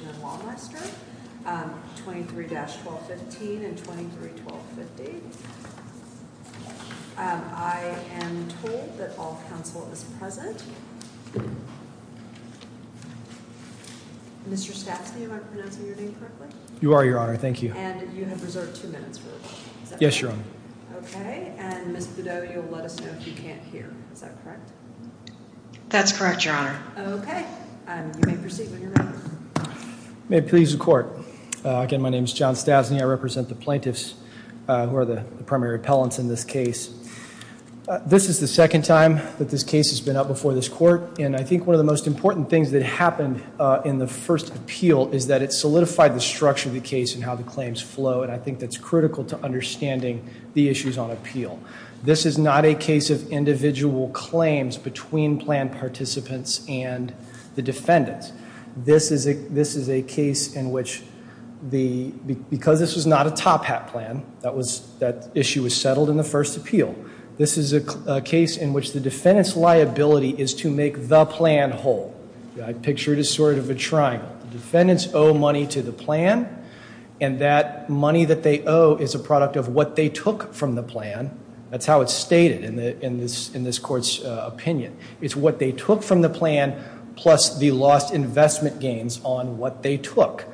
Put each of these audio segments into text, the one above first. and Wallmeister, 23-1215 and 23-1250. I am told that all counsel is present. Mr. Stavsky, am I pronouncing your name correctly? You are, Your Honor. Thank you. And you have reserved two minutes for rebuttal. Yes, Your Honor. Okay, and Ms. Bideau, you'll let us know if you can't hear. Is that correct? That's correct, Your Honor. Okay. You may proceed with your rebuttal. May it please the Court. Again, my name is John Stasny. I represent the plaintiffs who are the primary appellants in this case. This is the second time that this case has been up before this Court, and I think one of the most important things that happened in the first appeal is that it solidified the structure of the case and how the claims flow, and I think that's critical to understanding the issues on appeal. This is not a case of individual claims between plan participants and the defendants. This is a case in which because this was not a top-hat plan, that issue was settled in the first appeal. This is a case in which the defendant's liability is to make the plan whole. I picture it as sort of a triangle. The defendants owe money to the plan, and that money that they owe is a product of what they took from the plan. That's how it's stated in this Court's opinion. It's what they took from the plan plus the lost investment gains on what they took.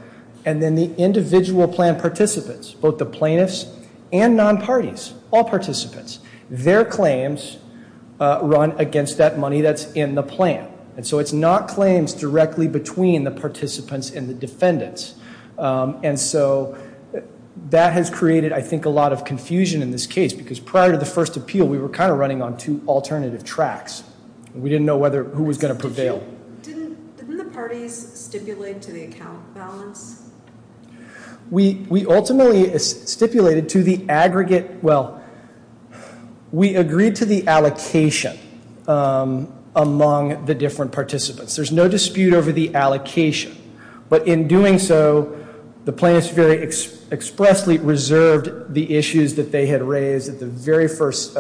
And then the individual plan participants, both the plaintiffs and non-parties, all participants, their claims run against that money that's in the plan. And so it's not claims directly between the participants and the defendants. And so that has created I think a lot of confusion in this case because prior to the first appeal we were kind of running on two alternative tracks. We didn't know who was going to prevail. Didn't the parties stipulate to the account balance? We ultimately stipulated to the aggregate, well, we agreed to the allocation among the different participants. There's no dispute over the allocation. But in doing so, the plaintiffs very expressly reserved the issues that they had raised at the very first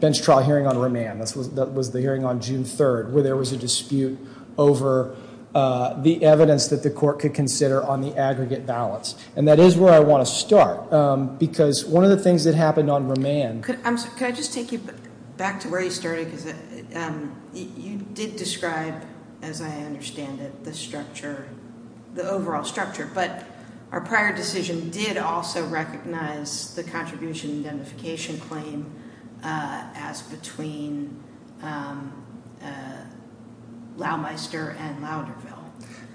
bench trial hearing on remand. That was the hearing on June 3rd where there was a dispute over the evidence that the Court could consider on the aggregate balance. And that is where I want to start because one of the things that happened on remand... Could I just take you back to where you started because you did describe, as I understand it, the structure, the overall structure. But our prior decision did also recognize the contribution identification claim as between Laumeister and Lauderville.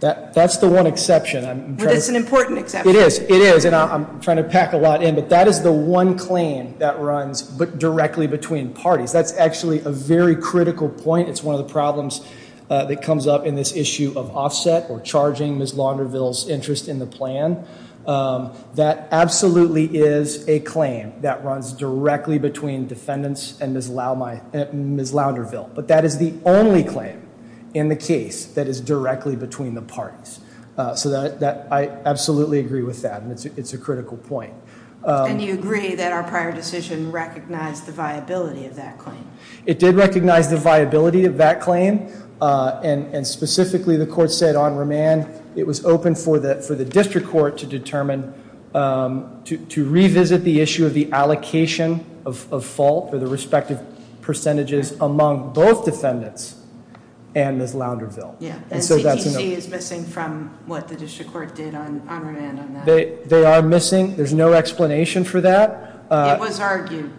That's the one exception. It's an important exception. It is. It is. And I'm trying to pack a lot in. But that is the one claim that runs directly between parties. That's actually a very critical point. It's one of the problems that comes up in this issue of offset or charging Ms. Lauderville's interest in the plan. That absolutely is a claim that runs directly between defendants and Ms. Lauderville. But that is the only claim in the case that is directly between the parties. I absolutely agree with that. It's a critical point. And you agree that our prior decision recognized the viability of that claim. It did recognize the viability of that claim. And specifically, the Court said on remand it was open for the District Court to determine, to revisit the issue of the allocation of fault or the respective percentages among both defendants and Ms. Lauderville. Yeah. And CTC is missing from what the District Court did on remand on that. They are missing. There's no explanation for that. It was argued.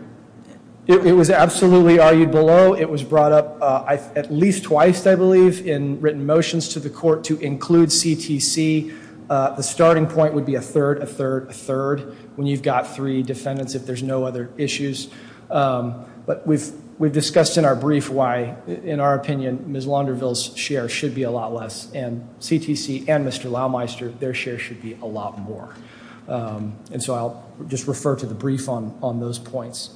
It was absolutely argued below. It was brought up at least twice, I believe, in written motions to the Court to include CTC. The starting point would be a third, a third, a third, when you've got three defendants, if there's no other issues. But we've discussed in our brief why, in our opinion, Ms. Lauderville's share should be a lot less. And CTC and Mr. Laumeister, their share should be a lot more. And so I'll just refer to the brief on those points.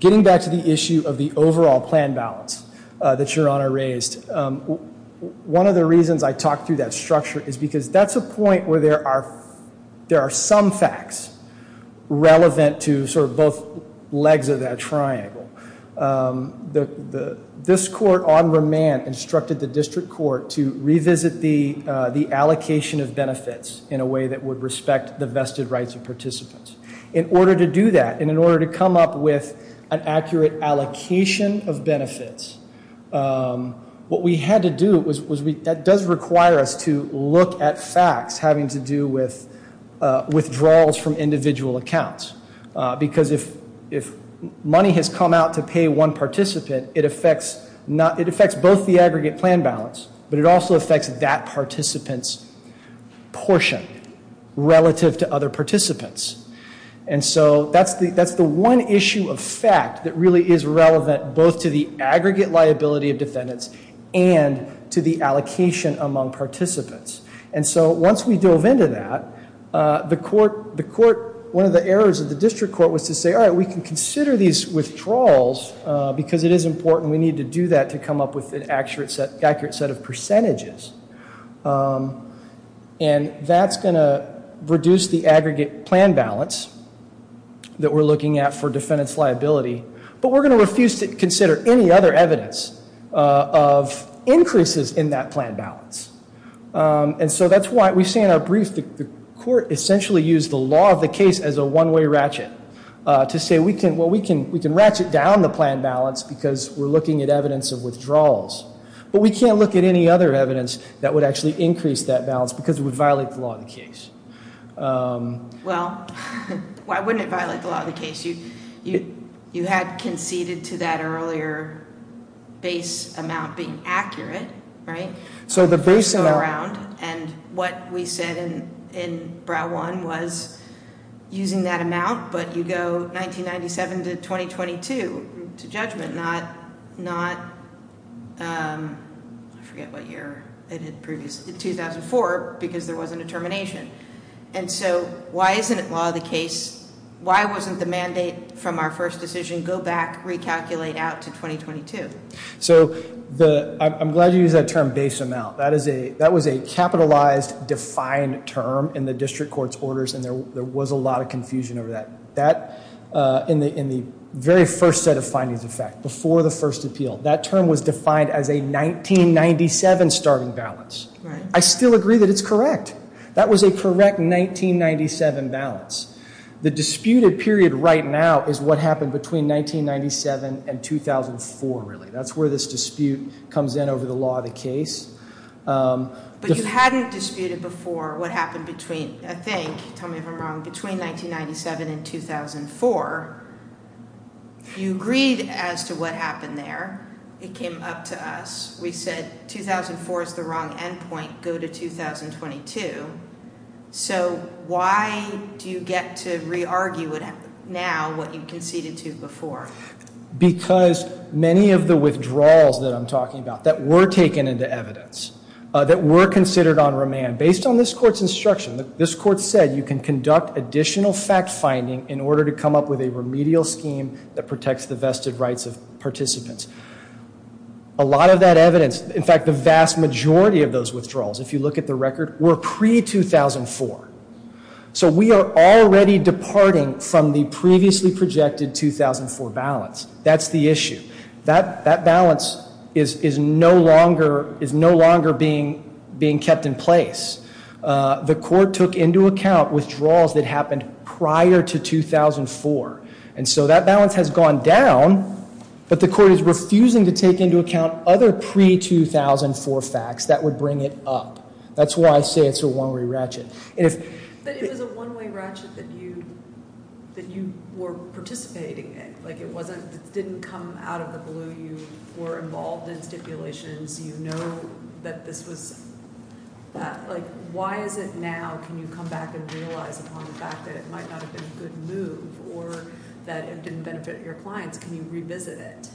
Getting back to the issue of the overall plan balance that Your Honor raised, one of the reasons I talked through that structure is because that's a point where there are some facts relevant to sort of both legs of that triangle. This court on remand instructed the District Court to revisit the allocation of benefits in a way that would respect the vested rights of participants. In order to do that, and in order to come up with an accurate allocation of benefits, what we had to do was, that does require us to look at facts having to do with withdrawals from individual accounts. Because if money has come out to pay one participant, it affects both the aggregate plan balance, but it also affects that participant's portion relative to other participants. And so that's the one issue of fact that really is relevant both to the aggregate liability of defendants and to the allocation among participants. And so once we dove into that, one of the errors of the District Court was to say, all right, we can consider these withdrawals because it is important. We need to do that to come up with an accurate set of percentages. And that's going to reduce the aggregate plan balance that we're looking at for defendant's liability, but we're going to refuse to consider any other evidence of increases in that plan balance. And so that's why we say in our brief, the court essentially used the law of the case as a one-way ratchet to say, well, we can ratchet down the plan balance because we're looking at evidence of withdrawals. But we can't look at any other evidence that would actually increase that balance because it would violate the law of the case. Well, why wouldn't it violate the law of the case? You had conceded to that earlier base amount being accurate, right? So the base amount. And what we said in Brow-1 was using that amount, but you go 1997 to 2022 to judgment, not, I forget what year, 2004 because there wasn't a termination. And so why isn't it law of the case? Why wasn't the mandate from our first decision, go back, recalculate out to 2022? So I'm glad you used that term, base amount. That was a capitalized, defined term in the district court's orders, and there was a lot of confusion over that. In the very first set of findings, in fact, before the first appeal, that term was defined as a 1997 starting balance. I still agree that it's correct. That was a correct 1997 balance. The disputed period right now is what happened between 1997 and 2004, really. That's where this dispute comes in over the law of the case. But you hadn't disputed before what happened between, I think, tell me if I'm wrong, between 1997 and 2004. You agreed as to what happened there. It came up to us. We said 2004 is the wrong end point. Go to 2022. So why do you get to re-argue now what you conceded to before? Because many of the withdrawals that I'm talking about that were taken into evidence, that were considered on remand, based on this court's instruction, this court said you can conduct additional fact-finding in order to come up with a remedial scheme that protects the vested rights of participants. A lot of that evidence, in fact, the vast majority of those withdrawals, if you look at the record, were pre-2004. So we are already departing from the previously projected 2004 balance. That's the issue. That balance is no longer being kept in place. The court took into account withdrawals that happened prior to 2004. And so that balance has gone down, but the court is refusing to take into account other pre-2004 facts that would bring it up. That's why I say it's a one-way ratchet. But it was a one-way ratchet that you were participating in. It didn't come out of the blue. You were involved in stipulations. You know that this was, like, why is it now can you come back and realize upon the fact that it might not have been a good move or that it didn't benefit your clients? Can you revisit it?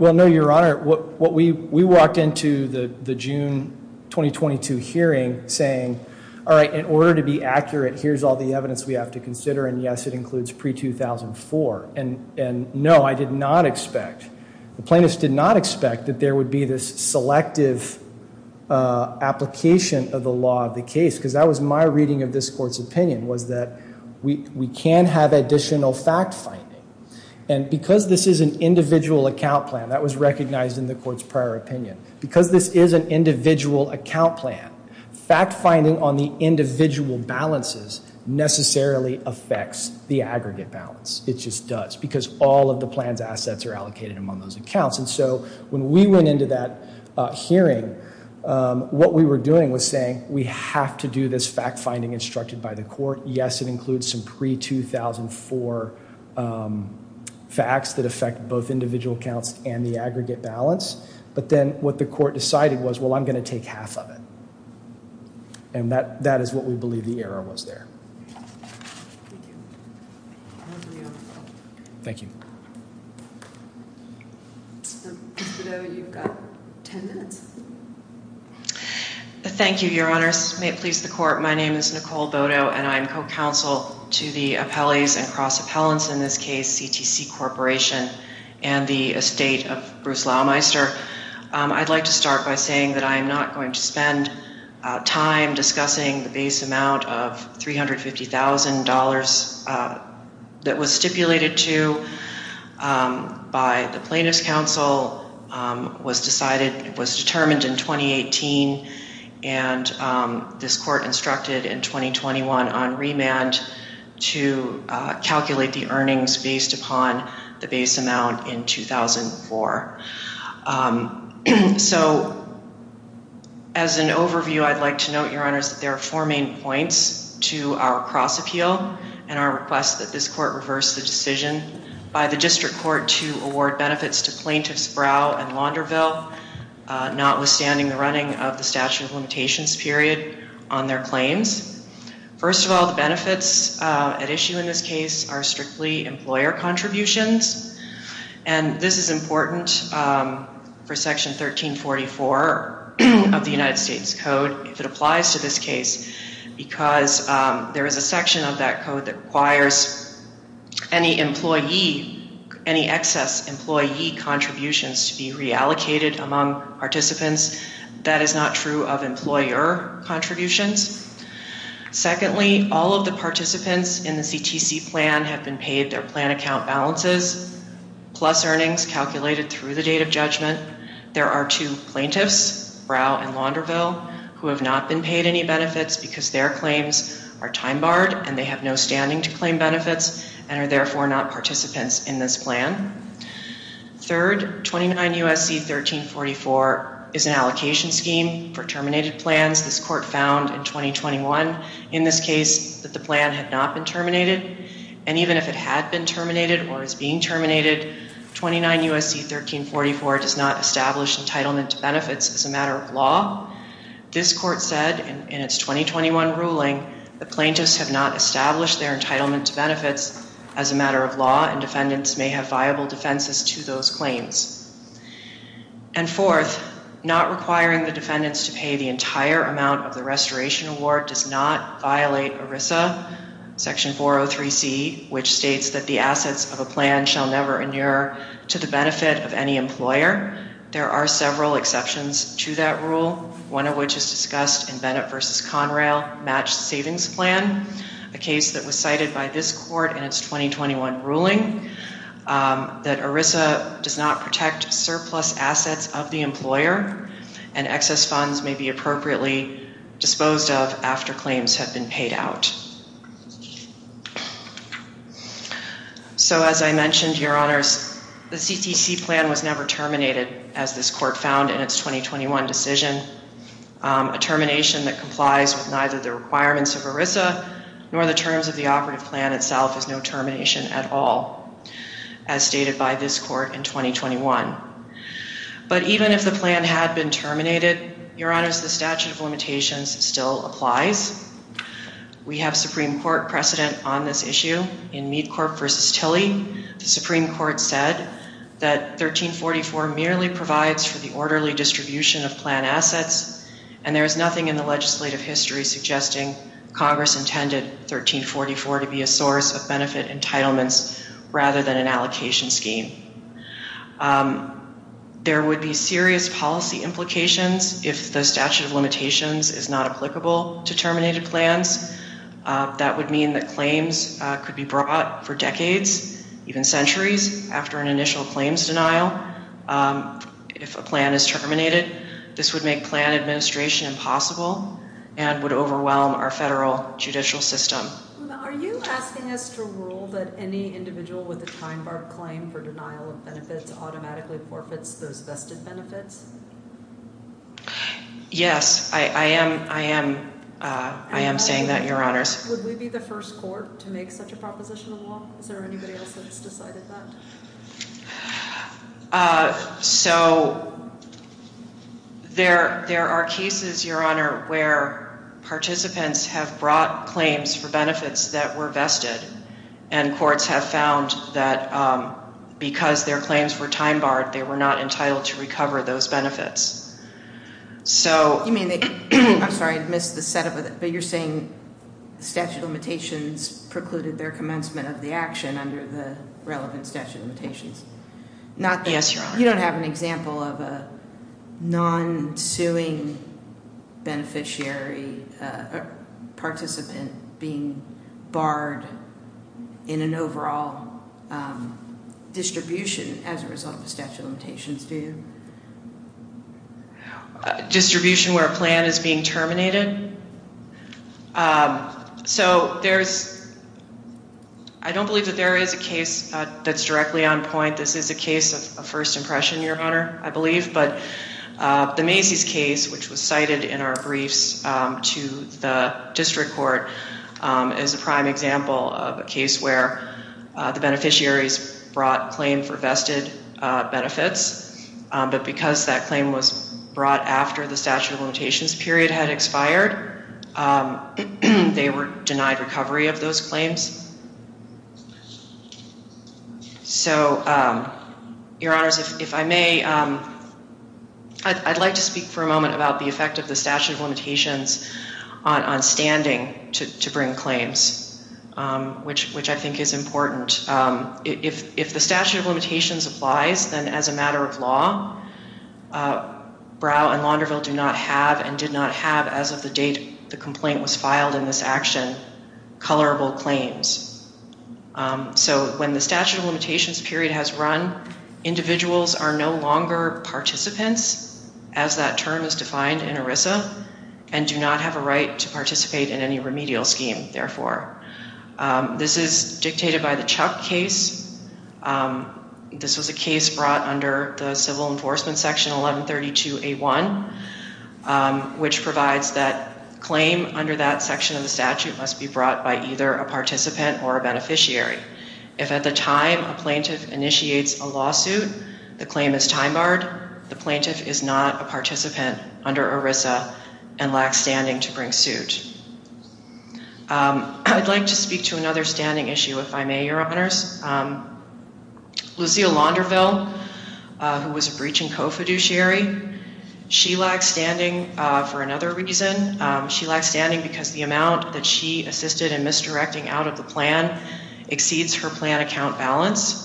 Well, no, Your Honor. We walked into the June 2022 hearing saying, all right, in order to be accurate, here's all the evidence we have to consider. And, yes, it includes pre-2004. And, no, I did not expect, the plaintiffs did not expect that there would be this selective application of the law of the case because that was my reading of this court's opinion was that we can have additional fact-finding. And because this is an individual account plan, that was recognized in the court's prior opinion, because this is an individual account plan, fact-finding on the individual balances necessarily affects the aggregate balance. It just does because all of the plan's assets are allocated among those accounts. And so when we went into that hearing, what we were doing was saying we have to do this fact-finding instructed by the court. Yes, it includes some pre-2004 facts that affect both individual accounts and the aggregate balance. But then what the court decided was, well, I'm going to take half of it. And that is what we believe the error was there. Thank you. Thank you, Your Honors. May it please the court. My name is Nicole Bodo, and I'm co-counsel to the appellees and cross-appellants in this case, CTC Corporation and the estate of Bruce Laumeister. I'd like to start by saying that I am not going to spend time discussing the base amount of $350,000 that was stipulated to by the Plaintiffs' Council, was determined in 2018, and this court instructed in 2021 on remand to calculate the earnings based upon the base amount in 2004. So as an overview, I'd like to note, Your Honors, that there are four main points to our cross-appeal and our request that this court reverse the decision by the district court to award benefits to plaintiffs Brow and Launderville, notwithstanding the running of the statute of limitations period on their claims. First of all, the benefits at issue in this case are strictly employer contributions. And this is important for Section 1344 of the United States Code, if it applies to this case, because there is a section of that code that requires any employee, any excess employee contributions to be reallocated among participants. That is not true of employer contributions. Secondly, all of the participants in the CTC plan have been paid their plan account balances, plus earnings calculated through the date of judgment. There are two plaintiffs, Brow and Launderville, who have not been paid any benefits because their claims are time barred and they have no standing to claim benefits, and are therefore not participants in this plan. Third, 29 U.S.C. 1344 is an allocation scheme for terminated plans. This court found in 2021 in this case that the plan had not been terminated, and even if it had been terminated or is being terminated, 29 U.S.C. 1344 does not establish entitlement to benefits as a matter of law. This court said in its 2021 ruling, the plaintiffs have not established their entitlement to benefits as a matter of law, and defendants may have viable defenses to those claims. And fourth, not requiring the defendants to pay the entire amount of the restoration award does not violate ERISA Section 403C, which states that the assets of a plan shall never inure to the benefit of any employer. There are several exceptions to that rule, one of which is discussed in Bennett v. Conrail, Matched Savings Plan, a case that was cited by this court in its 2021 ruling, that ERISA does not protect surplus assets of the employer and excess funds may be appropriately disposed of after claims have been paid out. So as I mentioned, Your Honors, the CCC plan was never terminated, as this court found in its 2021 decision. A termination that complies with neither the requirements of ERISA nor the terms of the operative plan itself is no termination at all, as stated by this court in 2021. But even if the plan had been terminated, Your Honors, the statute of limitations still applies. We have Supreme Court precedent on this issue. In Mead Court v. Tilly, the Supreme Court said that 1344 merely provides for the orderly distribution of plan assets, and there is nothing in the legislative history suggesting Congress intended 1344 to be a source of benefit entitlements rather than an allocation scheme. There would be serious policy implications if the statute of limitations is not applicable to terminated plans. That would mean that claims could be brought for decades, even centuries, after an initial claims denial. If a plan is terminated, this would make plan administration impossible and would overwhelm our federal judicial system. Are you asking us to rule that any individual with a time-barred claim for denial of benefits automatically forfeits those vested benefits? Yes, I am saying that, Your Honors. Would we be the first court to make such a proposition of law? Is there anybody else that's decided that? So there are cases, Your Honor, where participants have brought claims for benefits that were vested, and courts have found that because their claims were time-barred, they were not entitled to recover those benefits. I'm sorry, I missed the set-up, but you're saying statute of limitations precluded their commencement of the action under the relevant statute of limitations? Yes, Your Honor. You don't have an example of a non-suing beneficiary participant being barred in an overall distribution as a result of the statute of limitations, do you? Distribution where a plan is being terminated? So I don't believe that there is a case that's directly on point. This is a case of first impression, Your Honor, I believe. But the Macy's case, which was cited in our briefs to the district court, is a prime example of a case where the beneficiaries brought claim for vested benefits, but because that claim was brought after the statute of limitations period had expired, they were denied recovery of those claims. So, Your Honors, if I may, I'd like to speak for a moment about the effect of the statute of limitations on standing to bring claims, which I think is important. If the statute of limitations applies, then as a matter of law, Brow and Launderville do not have, and did not have as of the date the complaint was filed in this action, colorable claims. So when the statute of limitations period has run, individuals are no longer participants, as that term is defined in ERISA, and do not have a right to participate in any remedial scheme, therefore. This is dictated by the Chuck case. This was a case brought under the civil enforcement section 1132A1, which provides that claim under that section of the statute must be brought by either a participant or a beneficiary. If at the time a plaintiff initiates a lawsuit, the claim is time barred, the plaintiff is not a participant under ERISA and lacks standing to bring suit. I'd like to speak to another standing issue, if I may, Your Honors. Lucille Launderville, who was a breach and co-fiduciary, she lacks standing for another reason. She lacks standing because the amount that she assisted in misdirecting out of the plan exceeds her plan account balance.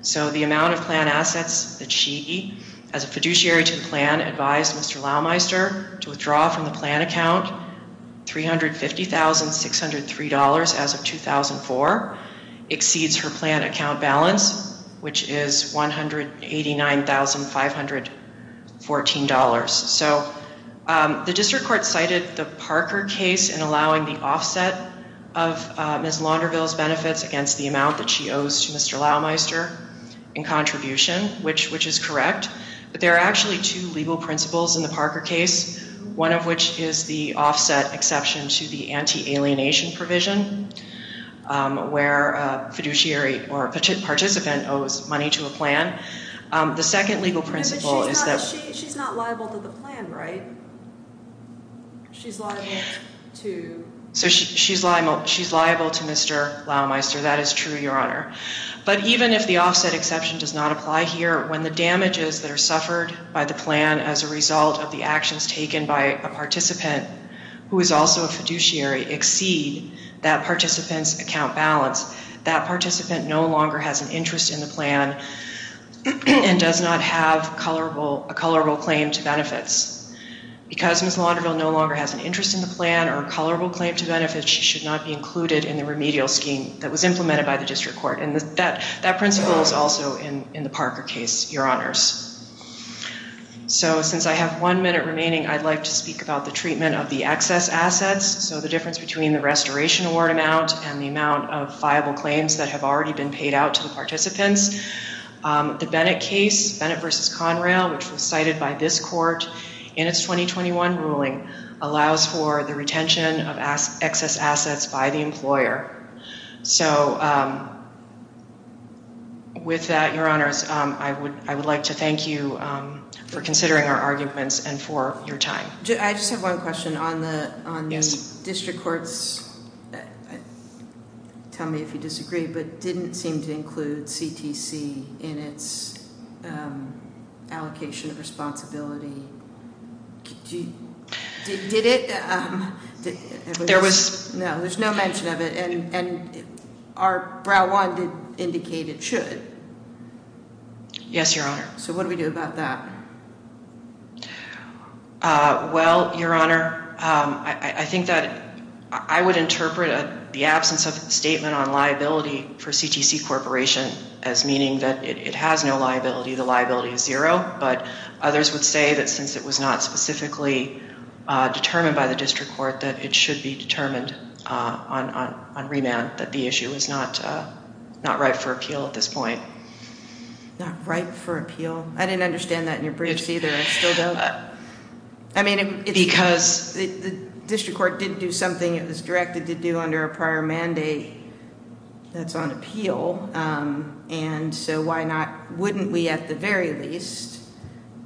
So the amount of plan assets that she, as a fiduciary to the plan, advised Mr. Laumeister to withdraw from the plan account, $350,603 as of 2004, exceeds her plan account balance, which is $189,514. So the district court cited the Parker case in allowing the offset of Ms. Launderville's benefits against the amount that she owes to Mr. Laumeister in contribution, which is correct. But there are actually two legal principles in the Parker case, one of which is the offset exception to the anti-alienation provision, where a fiduciary or participant owes money to a plan. But she's not liable to the plan, right? She's liable to Mr. Laumeister. That is true, Your Honor. But even if the offset exception does not apply here, when the damages that are suffered by the plan as a result of the actions taken by a participant who is also a fiduciary exceed that participant's account balance, that participant no longer has an interest in the plan and does not have a colorable claim to benefits. Because Ms. Launderville no longer has an interest in the plan or a colorable claim to benefits, she should not be included in the remedial scheme that was implemented by the district court. And that principle is also in the Parker case, Your Honors. So since I have one minute remaining, I'd like to speak about the treatment of the excess assets. So the difference between the restoration award amount and the amount of viable claims that have already been paid out to the participants. The Bennett case, Bennett v. Conrail, which was cited by this court in its 2021 ruling, allows for the retention of excess assets by the employer. So with that, Your Honors, I would like to thank you for considering our arguments and for your time. I just have one question. On the district courts, tell me if you disagree, but didn't seem to include CTC in its allocation of responsibility. Did it? There was no, there's no mention of it. And our Brown one did indicate it should. Yes, Your Honor. So what do we do about that? Well, Your Honor, I think that I would interpret the absence of statement on liability for CTC Corporation as meaning that it has no liability. The liability is zero. But others would say that since it was not specifically determined by the district court, that it should be determined on remand, that the issue is not right for appeal at this point. Not right for appeal. I didn't understand that in your briefs either. I still don't. Because? The district court didn't do something it was directed to do under a prior mandate that's on appeal. And so why not? Wouldn't we, at the very least,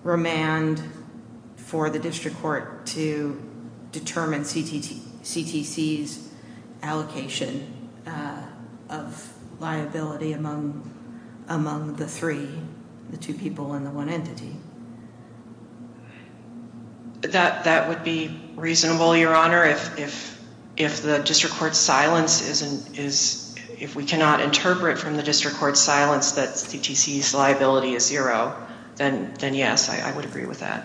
remand for the district court to determine CTC's allocation of liability among among the three, the two people in the one entity? That would be reasonable, Your Honor. If the district court's silence is, if we cannot interpret from the district court's silence that CTC's liability is zero, then yes, I would agree with that.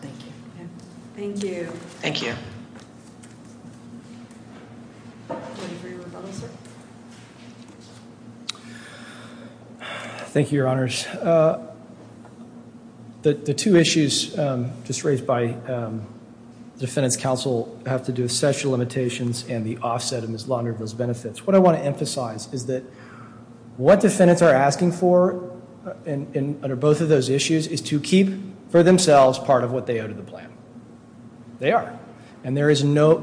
Thank you. Thank you. Thank you. Thank you, Your Honors. The two issues just raised by the defendant's counsel have to do with sexual limitations and the offset of Ms. Launderville's benefits. What I want to emphasize is that what defendants are asking for under both of those issues is to keep for themselves part of what they owe to the plan. They are. And there is no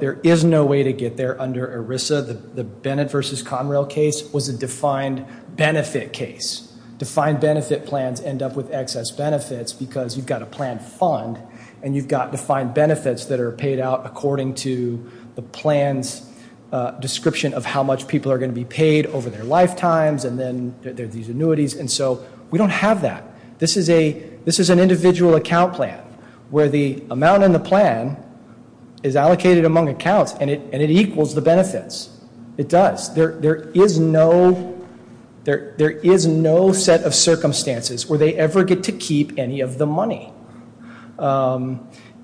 way to get there under ERISA. The Bennett v. Conrail case was a defined benefit case. Defined benefit plans end up with excess benefits because you've got a plan fund, and you've got defined benefits that are paid out according to the plan's description of how much people are going to be paid over their lifetimes, and then there are these annuities. And so we don't have that. This is an individual account plan where the amount in the plan is allocated among accounts, and it equals the benefits. It does. There is no set of circumstances where they ever get to keep any of the money.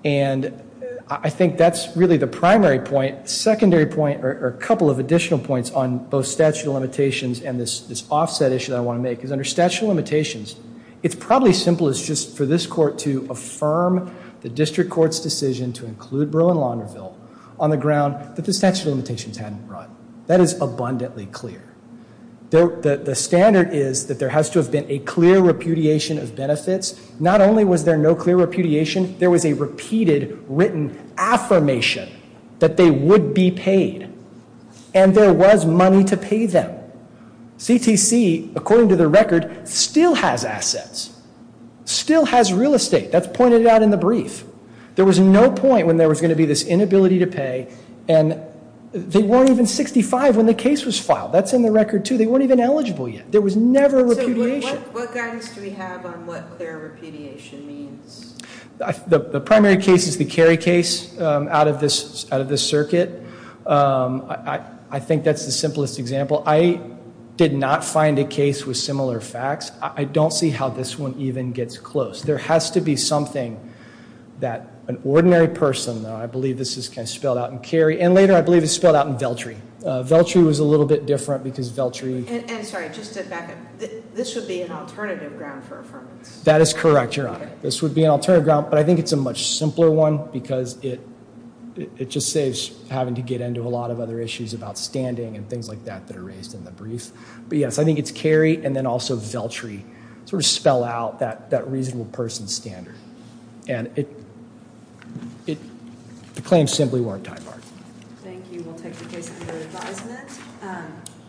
And I think that's really the primary point. Secondary point or a couple of additional points on both statute of limitations and this offset issue that I want to make is under statute of limitations, it's probably simple as just for this court to affirm the district court's decision to include Berle and Launderville on the ground that the statute of limitations hadn't run. That is abundantly clear. The standard is that there has to have been a clear repudiation of benefits. Not only was there no clear repudiation, there was a repeated written affirmation that they would be paid. And there was money to pay them. CTC, according to the record, still has assets, still has real estate. That's pointed out in the brief. There was no point when there was going to be this inability to pay, and they weren't even 65 when the case was filed. That's in the record, too. They weren't even eligible yet. There was never repudiation. So what guidance do we have on what clear repudiation means? The primary case is the Cary case out of this circuit. I think that's the simplest example. I did not find a case with similar facts. I don't see how this one even gets close. There has to be something that an ordinary person, I believe this is spelled out in Cary, and later I believe it's spelled out in Veltri. Veltri was a little bit different because Veltri. And sorry, just to back up, this would be an alternative ground for affirmance. That is correct, Your Honor. This would be an alternative ground, but I think it's a much simpler one because it just saves having to get into a lot of other issues about standing and things like that that are raised in the brief. But yes, I think it's Cary and then also Veltri sort of spell out that reasonable person standard. And the claims simply weren't tied back. Thank you. We'll take the case under advisement.